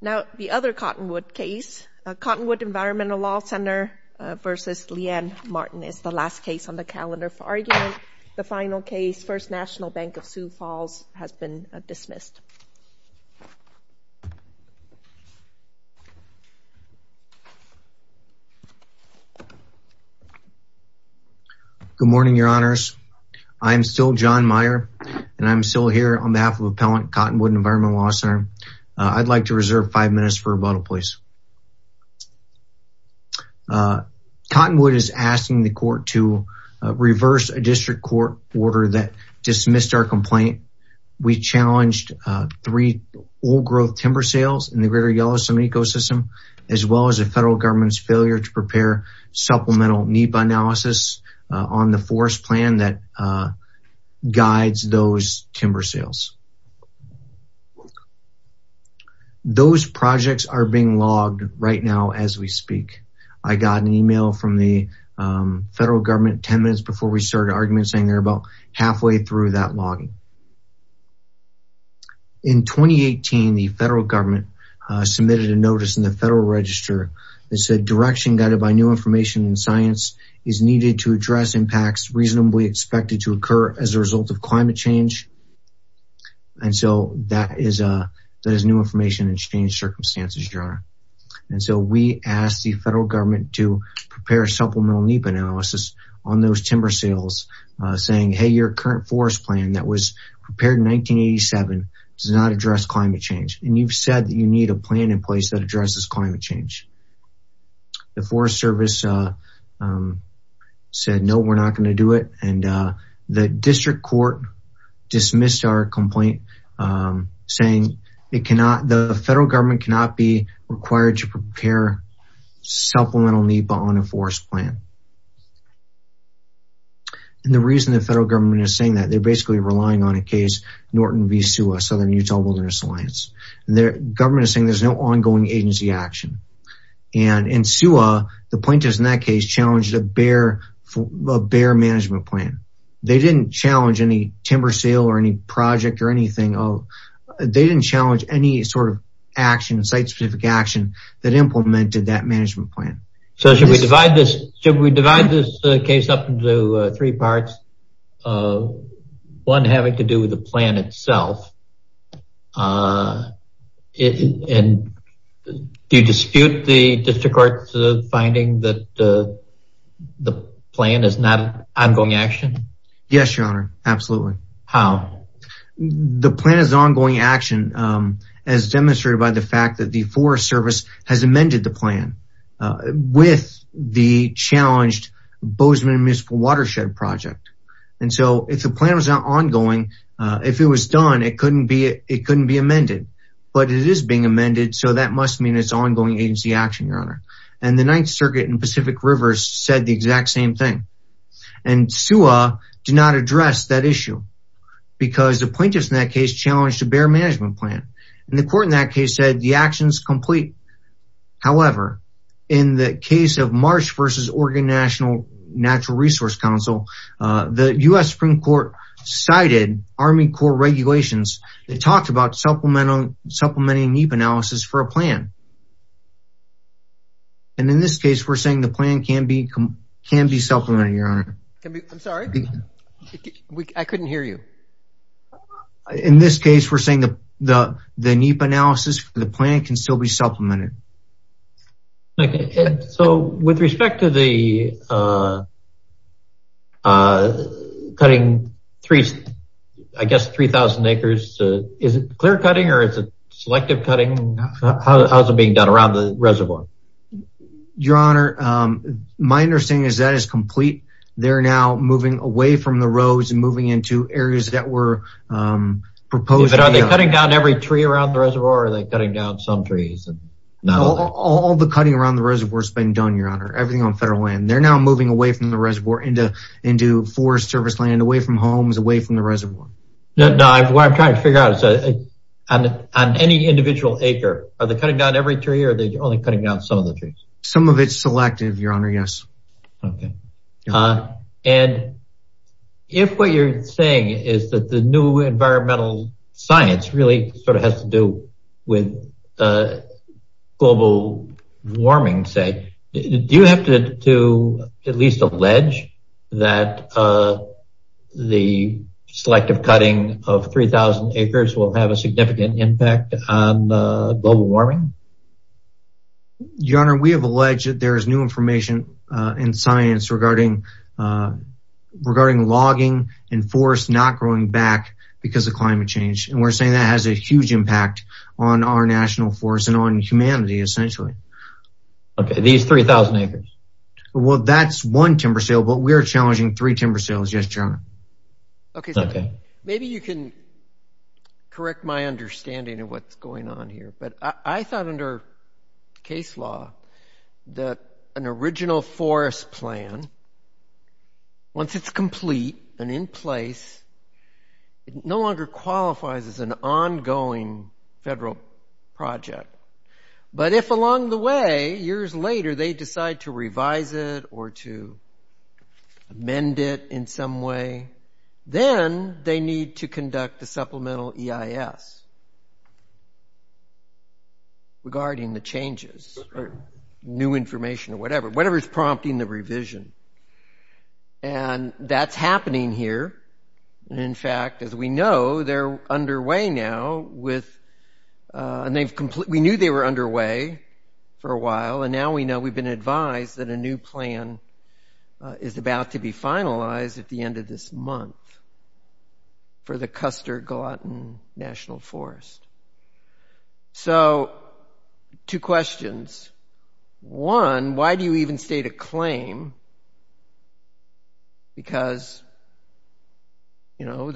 Now, the other Cottonwood case, Cottonwood Environmental Law Ctr. v. Leanne Marten is the last case on the calendar for argument. The final case, First National Bank of Sioux Falls has been dismissed. Good morning, Your Honors. I am still John Meyer and I'm still here on behalf of Appellant Cottonwood Environmental Law Ctr. I'd like to reserve five minutes for rebuttal, please. Cottonwood is asking the court to reverse a district court order that dismissed our complaint. We challenged three old growth timber sales in the Greater Yellowstone ecosystem, as well as the federal government's failure to prepare supplemental NEPA analysis on the forest plan that guides those timber sales. Those projects are being logged right now as we speak. I got an email from the federal government 10 minutes before we started argument saying they're about halfway through that logging. In 2018, the federal government submitted a notice in the Federal Register that said direction guided by new information and science is needed to address impacts reasonably expected to occur as a result of climate change. And so that is new information and change circumstances, Your Honor. And so we asked the federal government to prepare a supplemental NEPA analysis on those timber sales saying, hey, your current forest plan that was prepared in 1987 does not address climate change. And you've said that you need a plan in place that addresses climate change. The Forest Service said, no, we're not going to do it. And the district court dismissed our complaint saying the federal government cannot be required to prepare supplemental NEPA on a forest plan. And the reason the federal government is saying that they're basically relying on a case, Norton v. SUA, Southern Utah Wilderness Alliance. The government is saying there's no ongoing agency action. And in SUA, the bear management plan, they didn't challenge any timber sale or any project or anything. They didn't challenge any sort of action, site specific action that implemented that management plan. So should we divide this case up into three parts? One having to do with the plan itself. And do you dispute the ongoing action? Yes, Your Honor. Absolutely. How? The plan is ongoing action as demonstrated by the fact that the Forest Service has amended the plan with the challenged Bozeman Municipal Watershed Project. And so if the plan was not ongoing, if it was done, it couldn't be amended. But it is being amended. So that must mean it's ongoing agency action, Your Honor. And the exact same thing. And SUA did not address that issue because the plaintiffs in that case challenged a bear management plan. And the court in that case said the action's complete. However, in the case of Marsh v. Oregon National Natural Resource Council, the US Supreme Court cited Army Corps regulations that talked about supplementing NEPA analysis for a plan. And in this case, we're saying the plan can be supplemented, Your Honor. I'm sorry. I couldn't hear you. In this case, we're saying the NEPA analysis for the plan can still be supplemented. Okay. So with respect to the cutting three, I guess, 3,000 acres, is it clear cutting or is it selective cutting? How's it being done around the reservoir? Your Honor, my understanding is that it's complete. They're now moving away from the roads and moving into areas that were proposed. But are they cutting down every tree around the reservoir or are they cutting down some trees? All the cutting around the reservoir has been done, Your Honor, everything on federal land. They're now moving away from the reservoir into forest service land, away from homes, away from the reservoir. No, what I'm trying to figure out is on any individual acre, are they cutting down every tree or are they only cutting down some of the trees? Some of it's selective, Your Honor, yes. Okay. And if what you're saying is that the new environmental science really sort of has to do with global warming, say, do you have to at least allege that the selective cutting of 3,000 acres will have a significant impact on global warming? Your Honor, we have alleged that there's new information in science regarding logging and forest not growing back because of climate change. And we're saying that has a huge impact on our national forest and on humanity, essentially. Okay, these 3,000 acres. Well, that's one timber sale, but we're challenging three timber sales. Yes, Your Honor. Okay, so maybe you can correct my understanding of what's going on here. But I thought under case law that an original forest plan, once it's complete and in place, it no longer qualifies as an ongoing federal project. But if along the way, years later, they decide to revise it or to amend it in some way, then they need to conduct a supplemental EIS regarding the changes or new information or whatever, whatever's prompting the revision. And that's happening here. And in fact, as we know, they're underway now with... And we knew they were underway for a while, and now we know we've been advised that a new plan is about to be finalized at the end of this month for the Custer-Gallatin National Forest. So two questions. One, why do you even state a claim? Because, you know,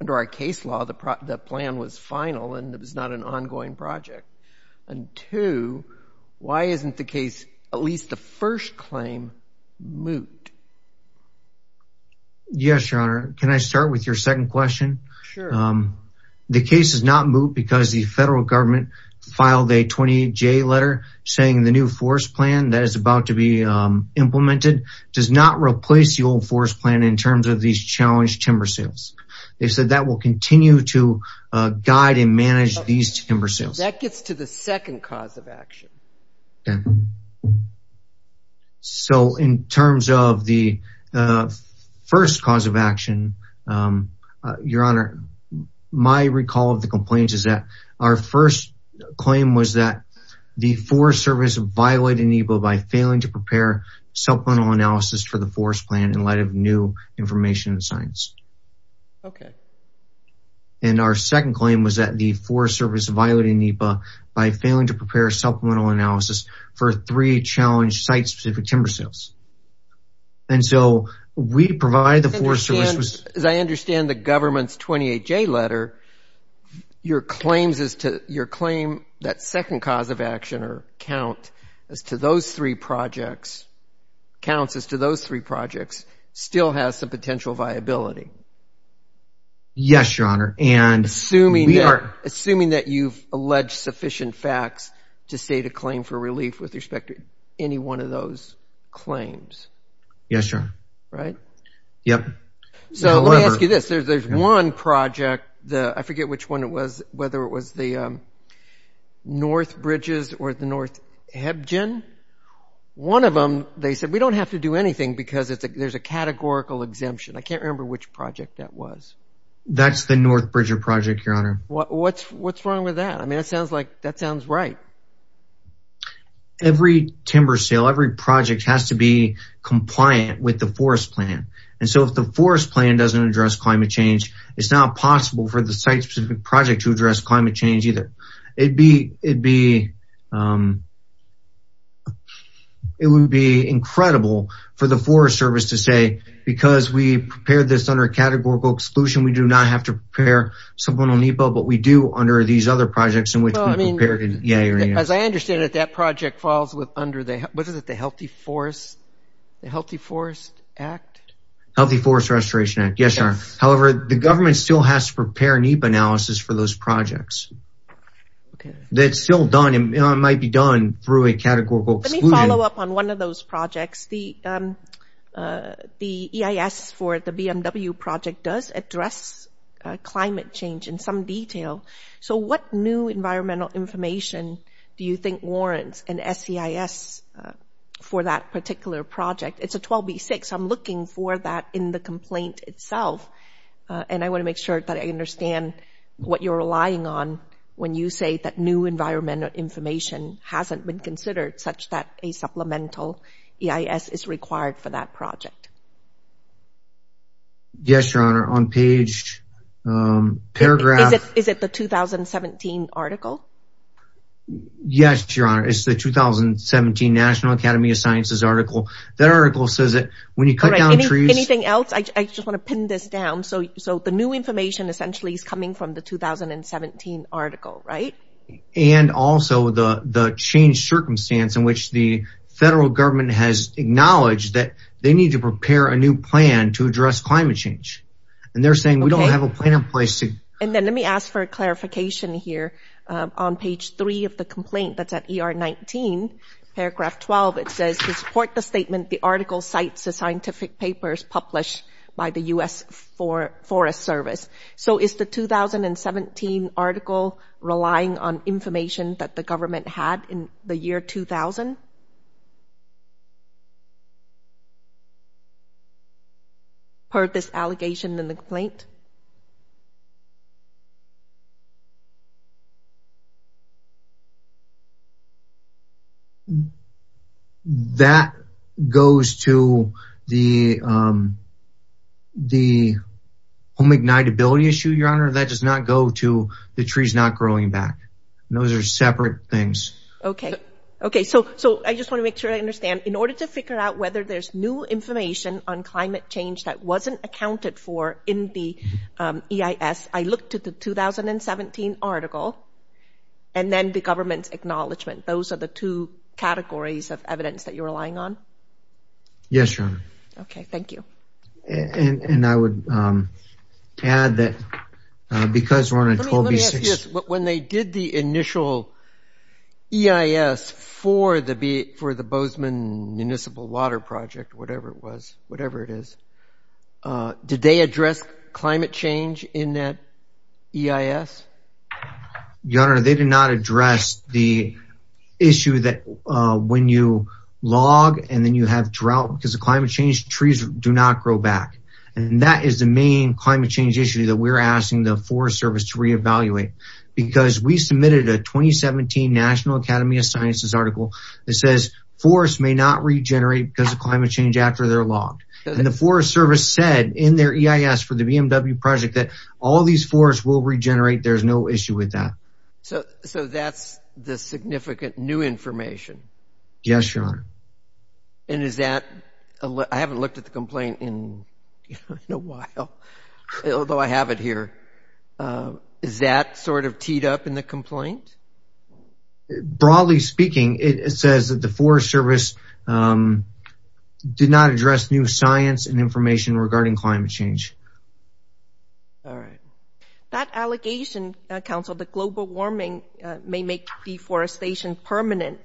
under our case law, the plan was final and it was not an ongoing project. And two, why isn't the case, at least the first claim, moot? Yes, Your Honor. Can I start with your second question? Sure. The case is not moot because the federal government filed a 28 J letter saying the new forest plan that is about to be implemented does not replace the old forest plan in terms of these challenged timber sales. They've said that will continue to guide and manage these timber sales. That gets to the second cause of action. Okay. So in terms of the first cause of action, Your Honor, my recall of the complaints is that our first claim was that the Forest Service violated an EBO by failing to prepare supplemental analysis for the forest plan in light of new information and signs. Okay. And our second claim was that the Forest Service violated an EBO by failing to prepare supplemental analysis for three challenged site specific timber sales. And so we provide the Forest Service... As I understand the government's 28 J letter, your claims is to... Your claim that second cause of action or count as to those three projects, counts as to those three projects, still has some potential viability. Yes, Your Honor. And we are... Assuming that you've alleged sufficient facts to state a claim for relief with respect to any one of those claims. Yes, Your Honor. Right? Yep. However... So let me ask you this. There's one project, I forget which one it was, whether it was the North Bridges or the North Hebgen. One of them, they said, we don't have to do anything because there's a categorical exemption. I can't remember which project that was. That's the North Bridger project, Your Honor. What's wrong with that? I mean, it sounds like that sounds right. Every timber sale, every project has to be compliant with the forest plan. And so if the forest plan doesn't address climate change, it's not possible for the site specific project to address climate change either. It would be incredible for the Forest Service to say, because we prepared this under a categorical exclusion, we do not have to prepare someone on NEPA, but we do under these other projects in which we prepared... Yeah, Your Honor. As I understand it, that project falls under the... What is it? The Healthy Forest Act? Healthy Forest Restoration Act. Yes, Your Honor. However, the government still has to prepare NEPA analysis for those projects. Okay. That's still done. It might be done through a categorical exclusion. Let me follow up on one of those projects. The EIS for the BMW project does address climate change in some detail. So what new environmental information do you think warrants an SEIS for that particular project? It's a 12B6. I'm looking for that in the complaint itself. And I wanna make sure that I what you're relying on when you say that new environmental information hasn't been considered such that a supplemental EIS is required for that project. Yes, Your Honor. On page... Paragraph... Is it the 2017 article? Yes, Your Honor. It's the 2017 National Academy of Sciences article. That article says that when you cut down trees... Anything else? I just wanna pin this down. So the new information essentially is coming from the 2017 article, right? And also, the change circumstance in which the federal government has acknowledged that they need to prepare a new plan to address climate change. And they're saying, we don't have a plan in place to... And then let me ask for a clarification here. On page three of the complaint that's at ER 19, paragraph 12, it says, to support the statement, the article cites the scientific papers published by the U.S. Forest Service. So is the 2017 article relying on information that the government had in the year 2000? Per this allegation in the complaint? That goes to the home ignitability issue, Your Honor. That does not go to the trees not growing back. Those are separate things. Okay. Okay. So I just wanna make sure I understand. In order to figure out whether there's new information on climate change that wasn't accounted for in the EIS, I looked at the 2017 article and then the government's acknowledgement. Those are the two categories of evidence that you're relying on? Yes, Your Honor. Okay. Thank you. And I would add that because we're on a 12 B6... Let me ask you this. When they did the initial EIS for the Bozeman Municipal Water Project, whatever it was, whatever it is, did they address climate change in that EIS? Your Honor, they did not address the issue that when you log and then you have drought because of climate change, trees do not grow back. And that is the main climate change issue that we're asking the Forest Service to reevaluate because we submitted a 2017 National Academy of Sciences article that says forests may not regenerate because of climate change after they're logged. And the Forest Service said in their EIS for the BMW project that all these forests will regenerate, there's no issue with that. So that's the significant new information? Yes, Your Honor. And is that... I haven't looked at the complaint in a while, although I have it here. Is that sort of teed up in the complaint? Broadly speaking, it says that the Forest Service did not address new science and information regarding climate change. All right. That allegation, Council, the global warming may make deforestation permanent.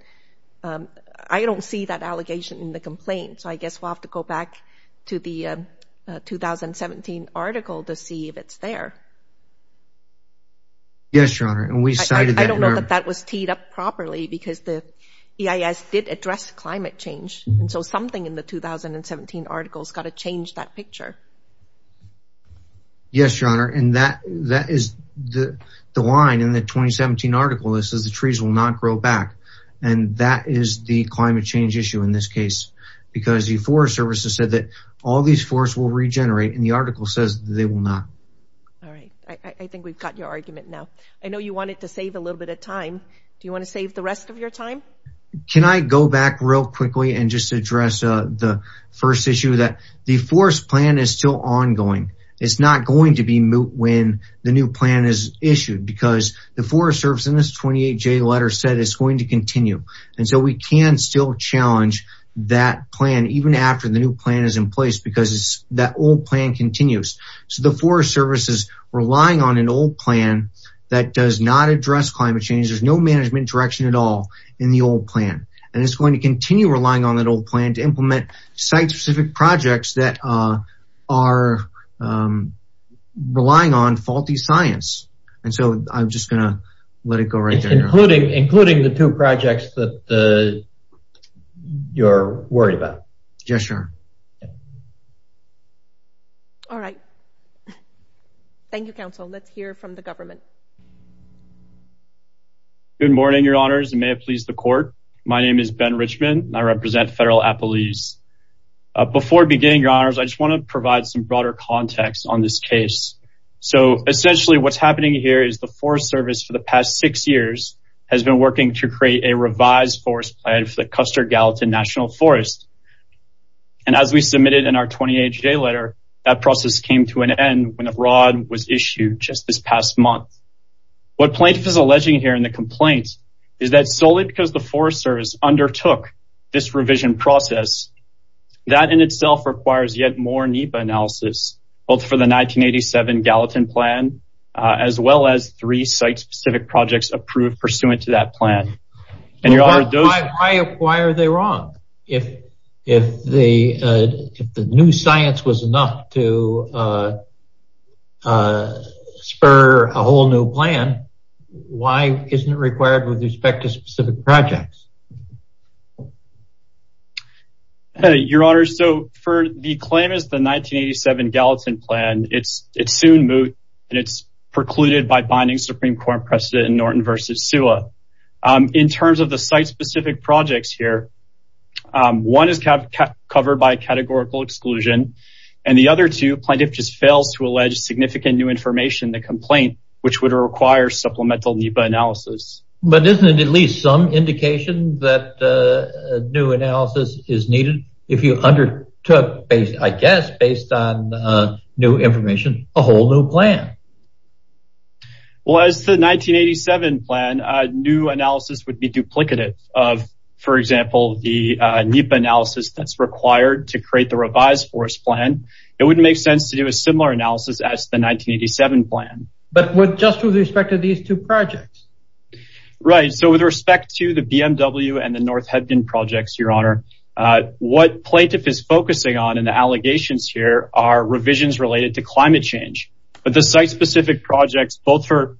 I don't see that allegation in the complaint, so I guess we'll have to go back to the 2017 article to see if it's there. Yes, Your Honor, and we cited that in our... I don't know that that was teed up properly because the EIS did address climate change, and so something in the 2017 article's gotta change that picture. Yes, Your Honor, and that is the line in the 2017 article that says the trees will not grow back, and that is the climate change issue in this case because the Forest Service has said that all these forests will regenerate, and the article says they will not. All right. I think we've got your argument now. I know you wanted to save a little bit of time. Do you wanna save the rest of your time? Can I go back real quickly and just address the first issue that the forest plan is still ongoing. It's not going to be when the new plan is issued because the Forest Service in this 28J letter said it's going to continue, and so we can still challenge that plan even after the new plan is in place because that old plan continues. So the Forest Service is relying on an old plan that does not address climate change. There's no management direction at all in the old plan, and it's going to continue relying on that old plan to implement site specific projects that are relying on faulty science, and so I'm just gonna let it go right there, Your Honor. Including the two projects that you're worried about. Yes, Your Honor. All right. Thank you, Your Honor. So let's hear from the government. Good morning, Your Honors, and may it please the court. My name is Ben Richmond, and I represent Federal Appellees. Before beginning, Your Honors, I just wanna provide some broader context on this case. So essentially, what's happening here is the Forest Service for the past six years has been working to create a revised forest plan for the Custer Gallatin National Forest, and as we submitted in our 28J letter, that process came to an end. The plan was issued just this past month. What plaintiff is alleging here in the complaint is that solely because the Forest Service undertook this revision process, that in itself requires yet more NEPA analysis, both for the 1987 Gallatin plan, as well as three site specific projects approved pursuant to that plan. And Your Honor, those... Why are they wrong? If the new science was enough to spur a whole new plan, why isn't it required with respect to specific projects? Your Honor, so for the claim is the 1987 Gallatin plan, it's soon moved, and it's precluded by binding Supreme Court precedent in Norton versus Sewa. In terms of the site specific projects here, one is covered by categorical exclusion, and the other two, plaintiff just fails to allege significant new information in the complaint, which would require supplemental NEPA analysis. But isn't it at least some indication that new analysis is needed if you undertook, I guess, based on new information, a whole new plan? Well, as the 1987 plan, new analysis would be duplicative of, for example, the NEPA analysis that's required to create the revised forest plan. It wouldn't make sense to do a similar analysis as the 1987 plan. But just with respect to these two projects? Right, so with respect to the BMW and the North Hebden projects, Your Honor, what plaintiff is focusing on in the allegations here are revisions related to climate change. But the site specific projects, both for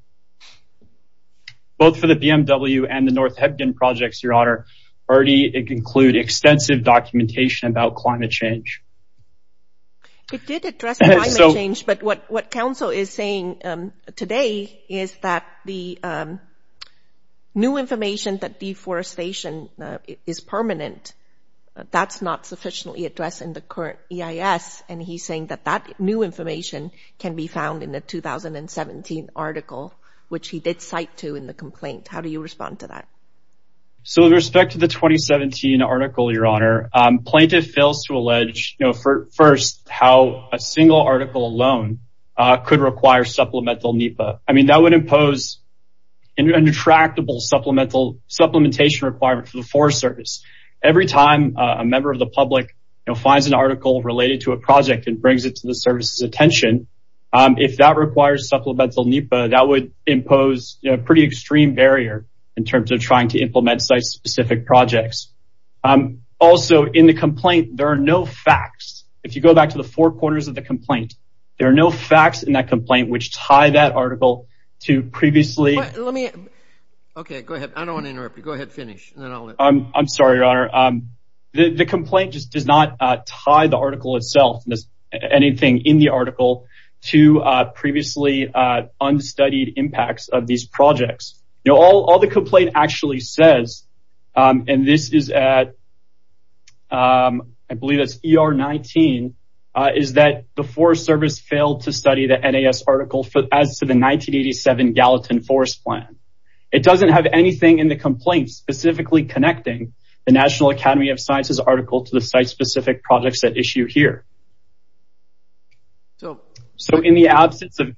the BMW and the North Hebden projects, Your Honor, already include extensive documentation about climate change. It did address climate change, but what council is saying today is that the new information that deforestation is permanent, that's not sufficiently addressed in the current EIS, and he's saying that that new information can be found in the 2017 article, which he did cite to in the complaint. How do you respond to that? So with respect to the 2017 article, Your Honor, plaintiff fails to allege, first, how a single article alone could require supplemental NEPA. That would impose an intractable supplementation requirement for the Forest Service. Every time a member of the public finds an article related to a project and brings it to the service's attention, if that requires supplemental NEPA, that would impose a pretty extreme barrier in terms of trying to implement site specific projects. Also, in the complaint, there are no facts. If you go back to the four corners of the complaint, there are no facts in that complaint which tie that article to previously... Let me... Okay, go ahead. I don't wanna interrupt you. Go ahead, finish, and then I'll... I'm sorry, Your Honor. The complaint just does not tie the article itself and anything in the article to previously unstudied impacts of these projects. All the complaint actually says, and this is at... I believe it's ER 19, is that the Forest Service failed to study the NAS article as to the 1987 Gallatin Forest Plan. It doesn't have anything in the complaint specifically connecting the National Academy of Sciences article to the site specific projects at issue here. So in the absence of...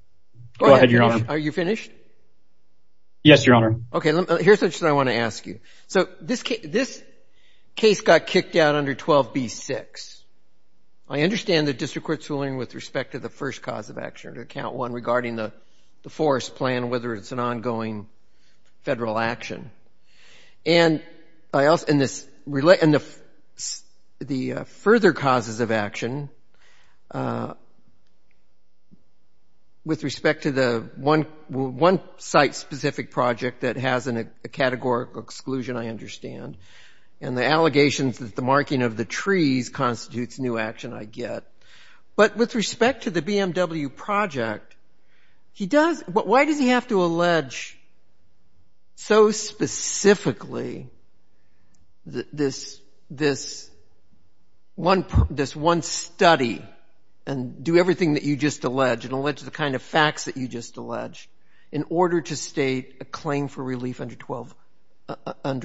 Go ahead, Your Honor. Are you finished? Yes, Your Honor. Okay, here's something I wanna ask you. So this case got kicked out under 12B6. I understand the district court's ruling with respect to the first cause of action, account one, regarding the forest plan, whether it's an ongoing federal action. And I also... And the further causes of action with respect to the one site specific project that has a categorical exclusion, I understand, and the allegations that the marking of the trees constitutes new action, I get. But with respect to the BMW project, he does... But why does he have to allege so specifically this one study and do everything that you just alleged, and allege the kind of facts that you just alleged, in order to state a claim for relief under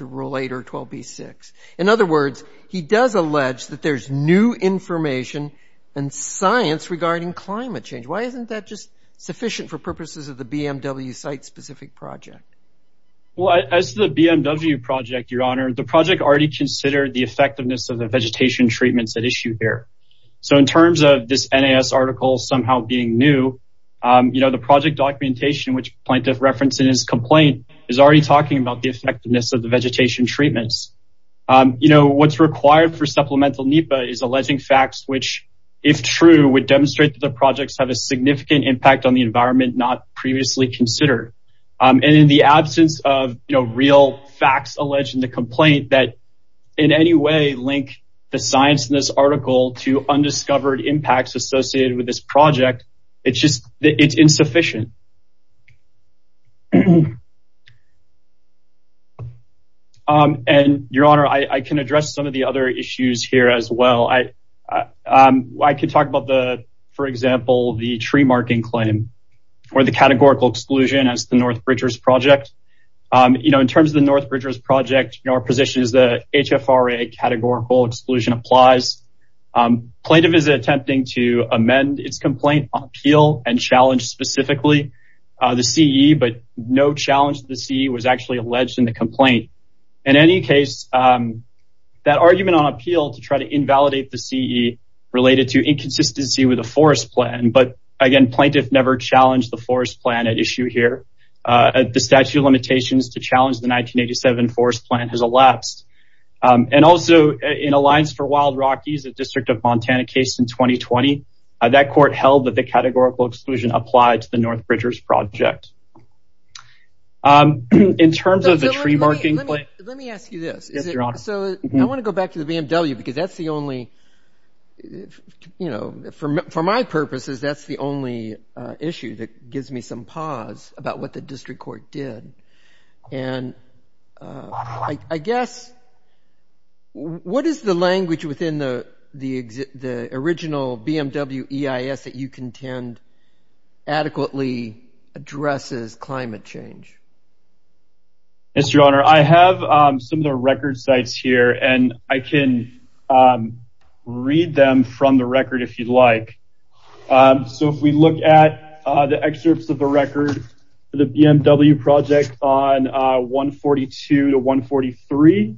Rule 8 or 12B6? In other words, he does allege that there's new information and science regarding climate change. Why isn't that sufficient for purposes of the BMW site specific project? Well, as the BMW project, Your Honor, the project already considered the effectiveness of the vegetation treatments at issue here. So in terms of this NAS article somehow being new, the project documentation, which Plaintiff referenced in his complaint, is already talking about the effectiveness of the vegetation treatments. What's required for Supplemental NEPA is alleging facts which, if true, would demonstrate that the projects have a significant impact on the environment not previously considered. And in the absence of real facts alleged in the complaint that, in any way, link the science in this article to undiscovered impacts associated with this project, it's insufficient. And Your Honor, I can address some of the other issues here as well. I could talk about, for example, the tree marking claim or the categorical exclusion as the North Bridgers project. In terms of the North Bridgers project, our position is that HFRA categorical exclusion applies. Plaintiff is attempting to amend its complaint on appeal and challenge specifically the CE, but no challenge to the CE was actually alleged in the complaint. In any case, that argument on appeal to try to invalidate the CE related to inconsistency with a forest plan, but again, Plaintiff never challenged the forest plan at issue here. The statute of limitations to challenge the 1987 forest plan has elapsed. And also, in Alliance for Wild Rockies, a District of Montana case in 2020, that court held that the categorical exclusion applied to the North Bridgers project. In terms of the tree marking claim... Let me ask you this. Yes, Your Honor. So I wanna go back to the BMW because that's the only... For my purposes, that's the only issue that gives me some pause about what the district court did. And I guess, what is the language within the original BMW EIS that you contend adequately addresses climate change? Yes, Your Honor. I have some of the record sites here, and I can read them from the record if you'd like. So if we look at the excerpts of the record for the BMW project on 142 to 143,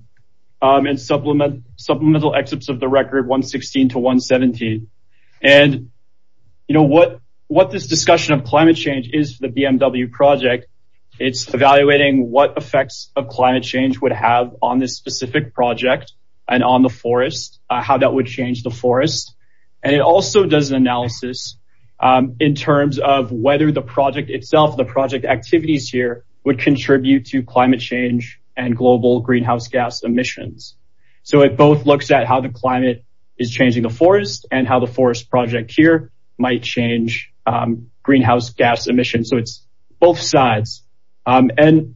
and supplemental excerpts of the record, 116 to 117. And what this discussion of climate change is for the BMW project, it's evaluating what effects of climate change would have on this specific project and on the forest, how that would change the forest. And it also does an analysis in terms of whether the project itself, the project activities here would contribute to climate change and global greenhouse gas emissions. So it both looks at how the climate is changing the forest and how the forest project here might change greenhouse gas emissions. So it's both sides. And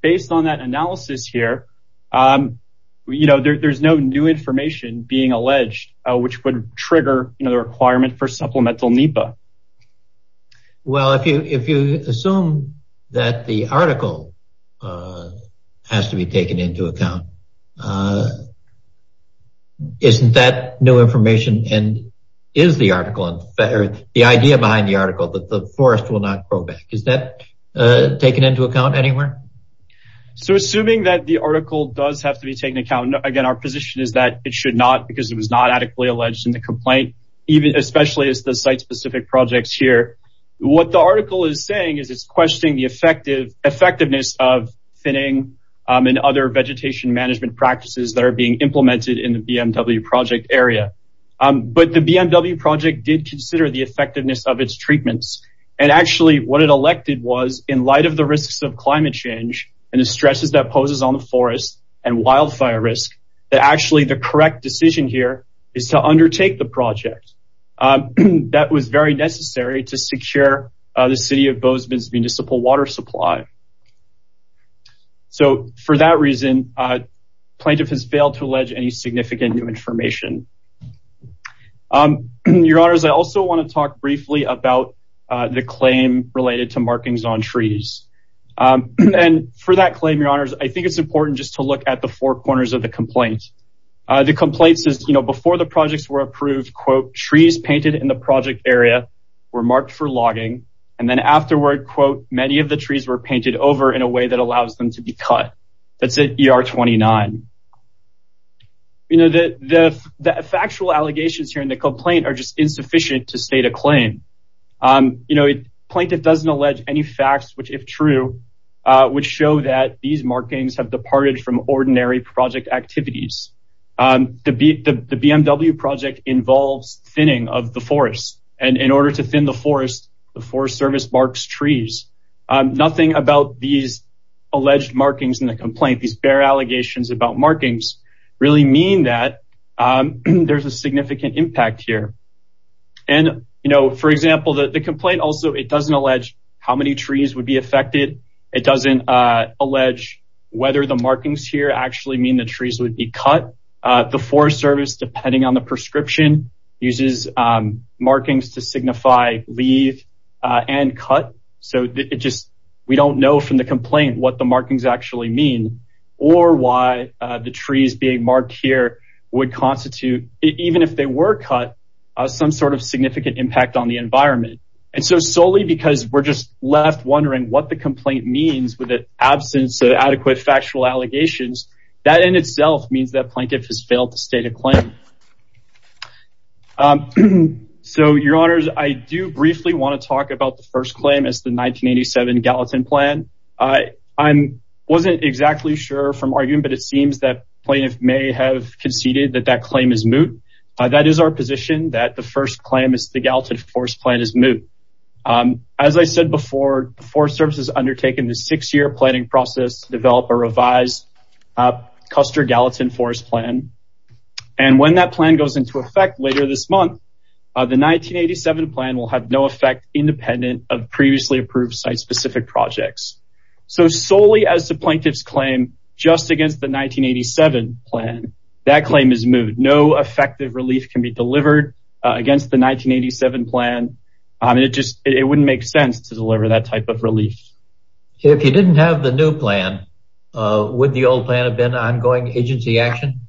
based on that analysis here, there's no new information being alleged which would trigger the requirement for supplemental NEPA. Well, if you assume that the article has to be taken into account, isn't that new information and is the article... The idea behind the article that the forest will not grow back, is that taken into account anywhere? So assuming that the article does have to be taken into account, and again, our position is that it should not because it was not adequately alleged in the complaint, especially as the site specific projects here. What the article is saying is it's questioning the effectiveness of thinning and other vegetation management practices that are being implemented in the BMW project area. But the BMW project did consider the effectiveness of its treatments. And actually what it elected was, in light of the risks of climate change and the stresses that poses on the forest and wildfire risk, that actually the correct decision here is to undertake the project. That was very necessary to secure the city of Bozeman's municipal water supply. So for that reason, plaintiff has failed to allege any significant new information. Your honors, I also wanna talk briefly about the claim related to markings on trees. And for that claim, your honors, I think it's important just to look at the four corners of the complaint. The complaint says, before the projects were approved, quote, trees painted in the project area were marked for logging, and then afterward, quote, many of the trees were painted over in a way that allows them to be cut. That's at ER 29. The factual allegations here in the complaint are just insufficient to state a claim. Plaintiff doesn't allege any facts which, if true, would show that these markings have departed from ordinary project activities. The BMW project involves thinning of the forest, and in order to thin the forest, the Forest Service marks trees. Nothing about these alleged markings in the complaint, these bare allegations about markings, really mean that there's a significant impact here. And for example, the complaint also, it doesn't allege how many trees would be affected. It doesn't allege whether the markings here actually mean the trees would be cut. The Forest Service, depending on the prescription, uses markings to signify leave and cut. So it just, we don't know from the complaint what the markings actually mean, or why the trees being marked here would constitute, even if they were cut, some sort of significant impact on the environment. And so solely because we're just left wondering what the complaint means with the absence of adequate factual allegations, that in itself means that plaintiff has failed to state a claim. So, your honors, I do briefly wanna talk about the first claim as the 1987 Gallatin Plan. I wasn't exactly sure from arguing, but it seems that plaintiff may have conceded that that claim is moot. That is our position, that the first claim is the Gallatin Forest Plan is moot. As I said before, the Forest Service has undertaken the six year planning process to develop a revised Custer Gallatin Forest Plan. And when that plan goes into effect later this month, the 1987 plan will have no effect independent of previously approved site specific projects. So solely as the plaintiff's claim, just against the 1987 plan, that claim is moot. No effective relief can be delivered against the 1987 plan. If you didn't have the new plan, would the old plan have been ongoing agency action?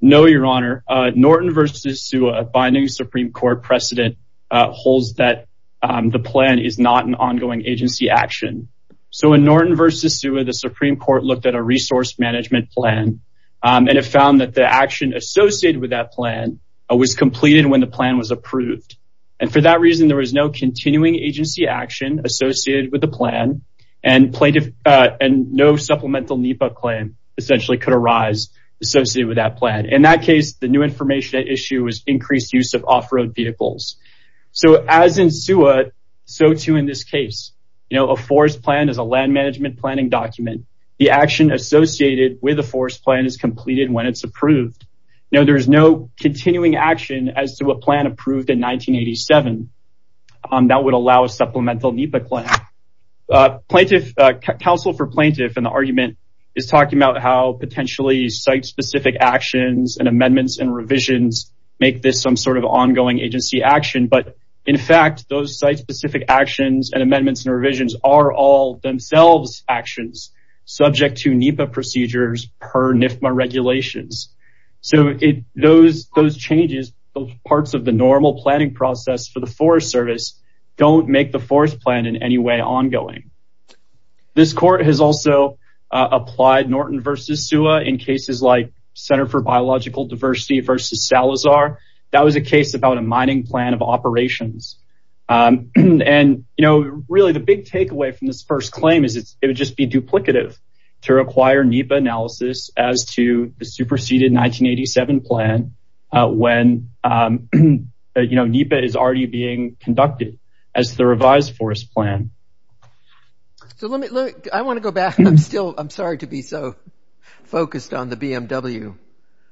No, your honor. Norton versus Sewa, a binding Supreme Court precedent, holds that the plan is not an ongoing agency action. So in Norton versus Sewa, the Supreme Court looked at a resource management plan, and it found that the action associated with that plan was completed when the plan was approved. And for that reason, there was no continuing agency action associated with the plan, and no supplemental NEPA claim essentially could arise associated with that plan. In that case, the new information at issue is increased use of off-road vehicles. So as in Sewa, so too in this case. A forest plan is a land management planning document. The action associated with a forest plan is completed when it's approved. Now, there is no continuing action as to a plan approved in 1987. That would allow a supplemental NEPA claim. Plaintiff, counsel for plaintiff in the argument is talking about how potentially site-specific actions and amendments and revisions make this some sort of ongoing agency action. But in fact, those site-specific actions and amendments and revisions are all themselves actions subject to NEPA procedures per NIFMA regulations. So those changes, parts of the normal planning process for the Forest Service don't make the forest plan in any way ongoing. This court has also applied Norton versus Sewa in cases like Center for Biological Diversity versus Salazar. That was a case about a mining plan of operations. And, you know, really the big takeaway from this first claim is it would just be duplicative to require NEPA analysis as to the superseded 1987 plan when, you know, NEPA is already being conducted as the revised forest plan. So let me look. I want to go back. I'm still I'm sorry to be so focused on the BMW.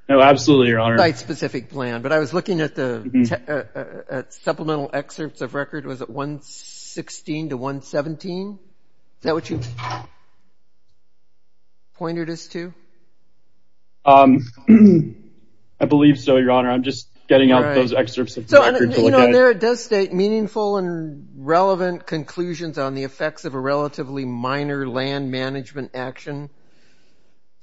Oh, absolutely. Your honor. Site-specific plan. But I was looking at the supplemental excerpts of record was at 116 to 117. Is that what you pointed us to? I believe so, your honor. I'm just getting out those excerpts of the record to look at. There it does state meaningful and relevant conclusions on the effects of a relatively minor land management action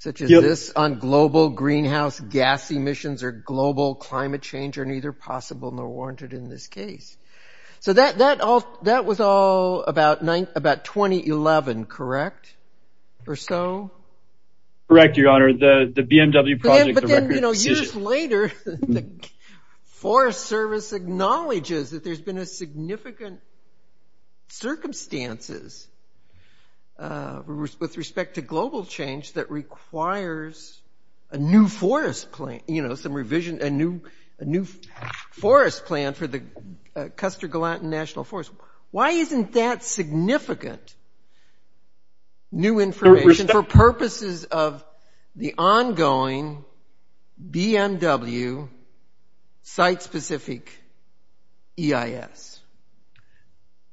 such as this on global greenhouse gas emissions or global climate change are neither possible nor warranted in this case. So that that all that was all about nine about 2011. Correct or so? Correct, your honor. The BMW project. But then, you know, years later, the Forest Service acknowledges that there's been a significant circumstances with respect to global change that requires a new forest plan, you know, some revision, a new a new forest plan for the Custer-Gallatin National Forest. Why isn't that significant? New information for purposes of the ongoing BMW site-specific EIS.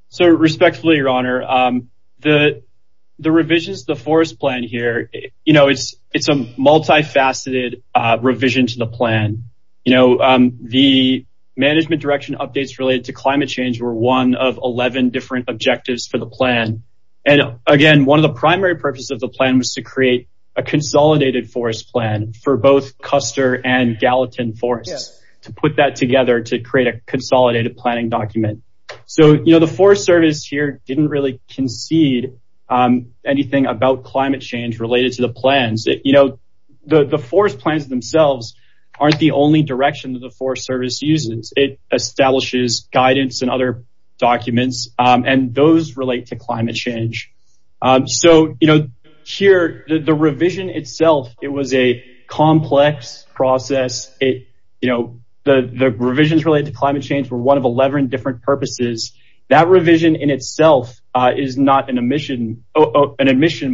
So respectfully, your honor, the the revisions, the forest plan here, you know, it's a multifaceted revision to the plan. You know, the management direction updates related to climate change were one of 11 different objectives for the plan. And again, one of the primary purposes of the plan was to create a consolidated forest plan for both Custer and Gallatin forests to put that together to create a consolidated planning document. So, you know, the Forest Service here didn't really concede anything about climate change related to the plans that, you know, the forest plans themselves aren't the only direction that the Forest Service uses. It establishes guidance and other documents and those relate to climate change. So, you know, here, the revision itself, it was a complex process. You know, the revisions related to climate change were one of 11 different purposes. That revision in itself is not an admission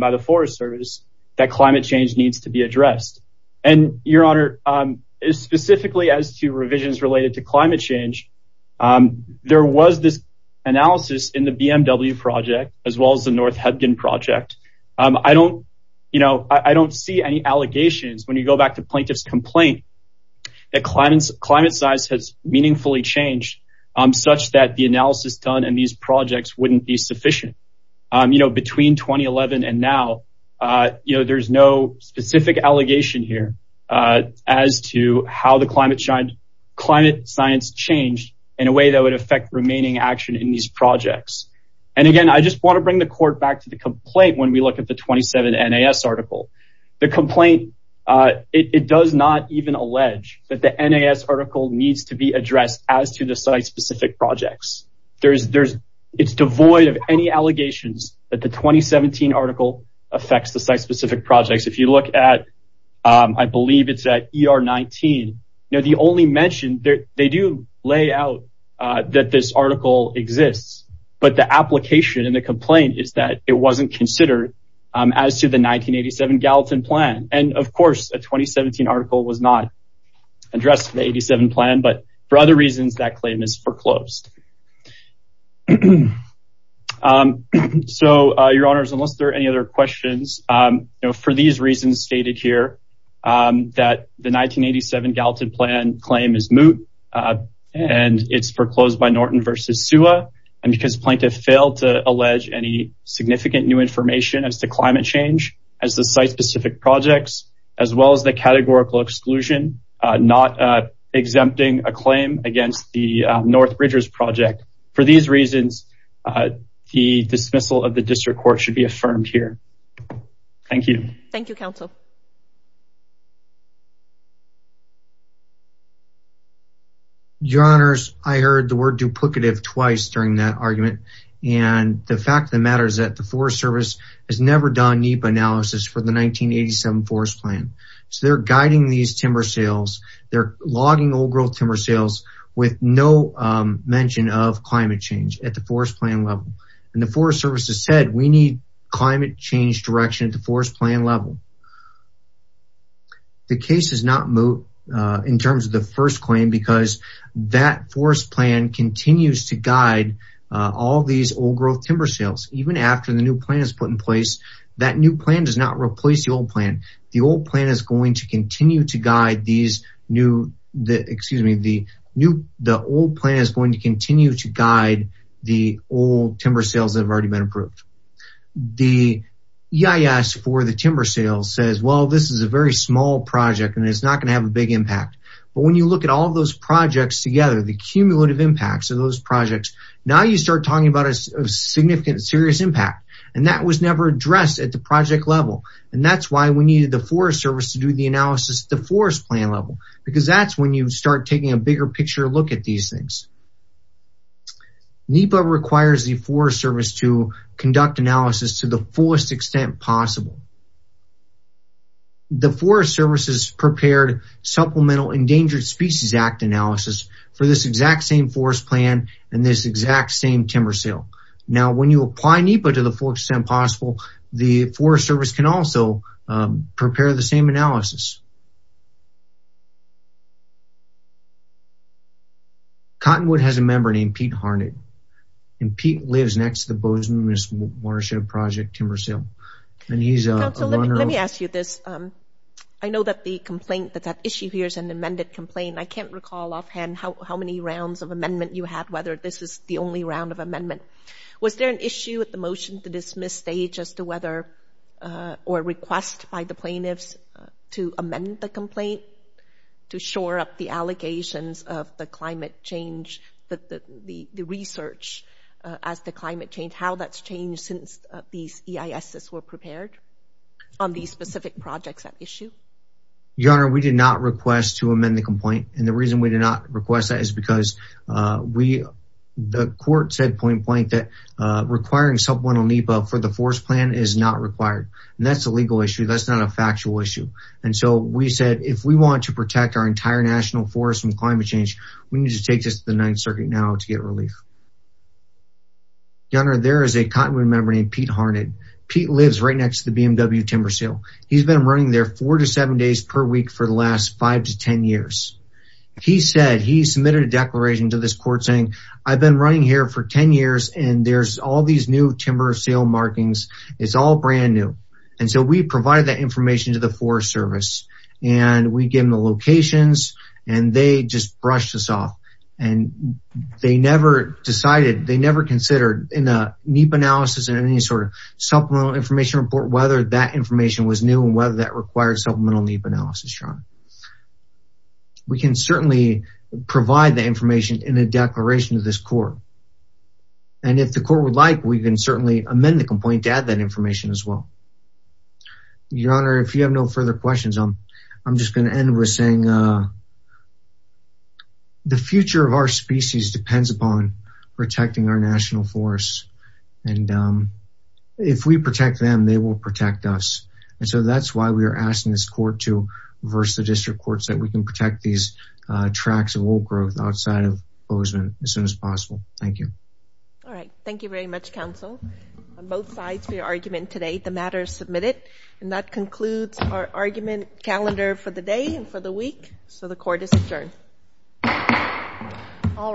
by the Forest Service that climate change needs to be addressed. And your honor, specifically as to revisions related to climate change, there was this analysis in the BMW project as well as the North Hebgen project. I don't, you know, I don't see any allegations when you go back to plaintiff's complaint. The climate size has meaningfully changed such that the analysis done in these projects wouldn't be sufficient, you know, between 2011 and now, you know, there's no specific allegation here as to how the climate science changed in a way that would affect remaining action in these projects. And again, I just want to bring the court back to the complaint when we look at the 27 NAS article. The complaint, it does not even allege that the NAS article needs to be addressed as to the site specific projects. It's devoid of any allegations that the 2017 article affects the site specific projects. If you look at, I believe it's at ER 19, you know, the only mention that they do lay out that this article exists. But the application and the complaint is that it wasn't considered as to the 1987 Gallatin plan. And of course, a 2017 article was not addressed in the 87 plan. But for other reasons, that claim is foreclosed. So, your honors, unless there are any other questions for these reasons stated here that the 1987 Gallatin plan claim is moot and it's foreclosed by Norton versus SUA and because plaintiff failed to allege any significant new information as to climate change as the site specific projects, as well as the categorical exclusion, not exempting a claim against the North Bridgers project. For these reasons, the dismissal of the district court should be affirmed here. Thank you. Thank you, counsel. Your honors, I heard the word duplicative twice during that argument. And the fact of the matter is that the Forest Service has never done NEPA analysis for the 1987 forest plan. So, they're guiding these timber sales. They're logging old growth timber sales with no mention of climate change at the forest plan level. And the Forest Service has said, we need climate change direction at the forest plan level. The case is not moot in terms of the first claim because that forest plan continues to guide all these old growth timber sales, even after the new plan is put in place, that new plan does not replace the old plan. The old plan is going to continue to guide these new, excuse me, the old plan is going to continue to guide the old timber sales that have already been approved. The EIS for the timber sales says, well, this is a very small project and it's not going to have a big impact. But when you look at all of those projects together, the cumulative impacts of those projects, now you start talking about a significant, serious impact. And that was never addressed at the project level. And that's why we needed the Forest Service to do the analysis at the forest plan level, because that's when you start taking a bigger picture look at these things. NEPA requires the Forest Service to conduct analysis to the fullest extent possible. The Forest Service has prepared Supplemental Endangered Species Act analysis for this exact same forest plan and this exact same timber sale. Now, when you apply NEPA to the fullest extent possible, the Forest Service can also prepare the same analysis. Cottonwood has a member named Pete Harned, and Pete lives next to the Bozeman Watershed Project timber sale, and he's a runner- Councilor, let me ask you this, I know that the complaint, that issue here is an amended complaint, I can't recall offhand how many rounds of amendment you had, whether this is the only round of amendment. Was there an issue with the motion to dismiss stage as to whether, or request by the plaintiffs to amend the motion? Amend the complaint to shore up the allegations of the climate change, the research as to climate change, how that's changed since these EISs were prepared on these specific projects at issue? Your Honor, we did not request to amend the complaint, and the reason we did not request that is because we, the court said point blank that requiring supplemental NEPA for the forest plan is not required, and that's a legal issue, that's not a factual issue, and so we said if we want to protect our entire national forest from climate change, we need to take this to the Ninth Circuit now to get relief. Your Honor, there is a Cottonwood member named Pete Harned, Pete lives right next to the BMW timber sale, he's been running there four to seven days per week for the last five to ten years. He said, he submitted a declaration to this court saying, I've been running here for ten years, and there's all these new timber sale markings, it's all the forest service, and we give them the locations, and they just brushed us off, and they never decided, they never considered in a NEPA analysis and any sort of supplemental information report, whether that information was new and whether that required supplemental NEPA analysis, Your Honor. We can certainly provide the information in a declaration to this court, and if the court would like, we can certainly amend the complaint to add that information as well. Your Honor, if you have no further questions, I'm just going to end with saying, the future of our species depends upon protecting our national forests, and if we protect them, they will protect us. And so that's why we are asking this court to reverse the district courts that we can protect these tracts of old growth outside of Bozeman as soon as possible. Thank you. All right. Thank you very much, counsel. On both sides for your argument today, the matter is submitted, and that concludes our argument calendar for the day and for the week. So the court is adjourned. All rise.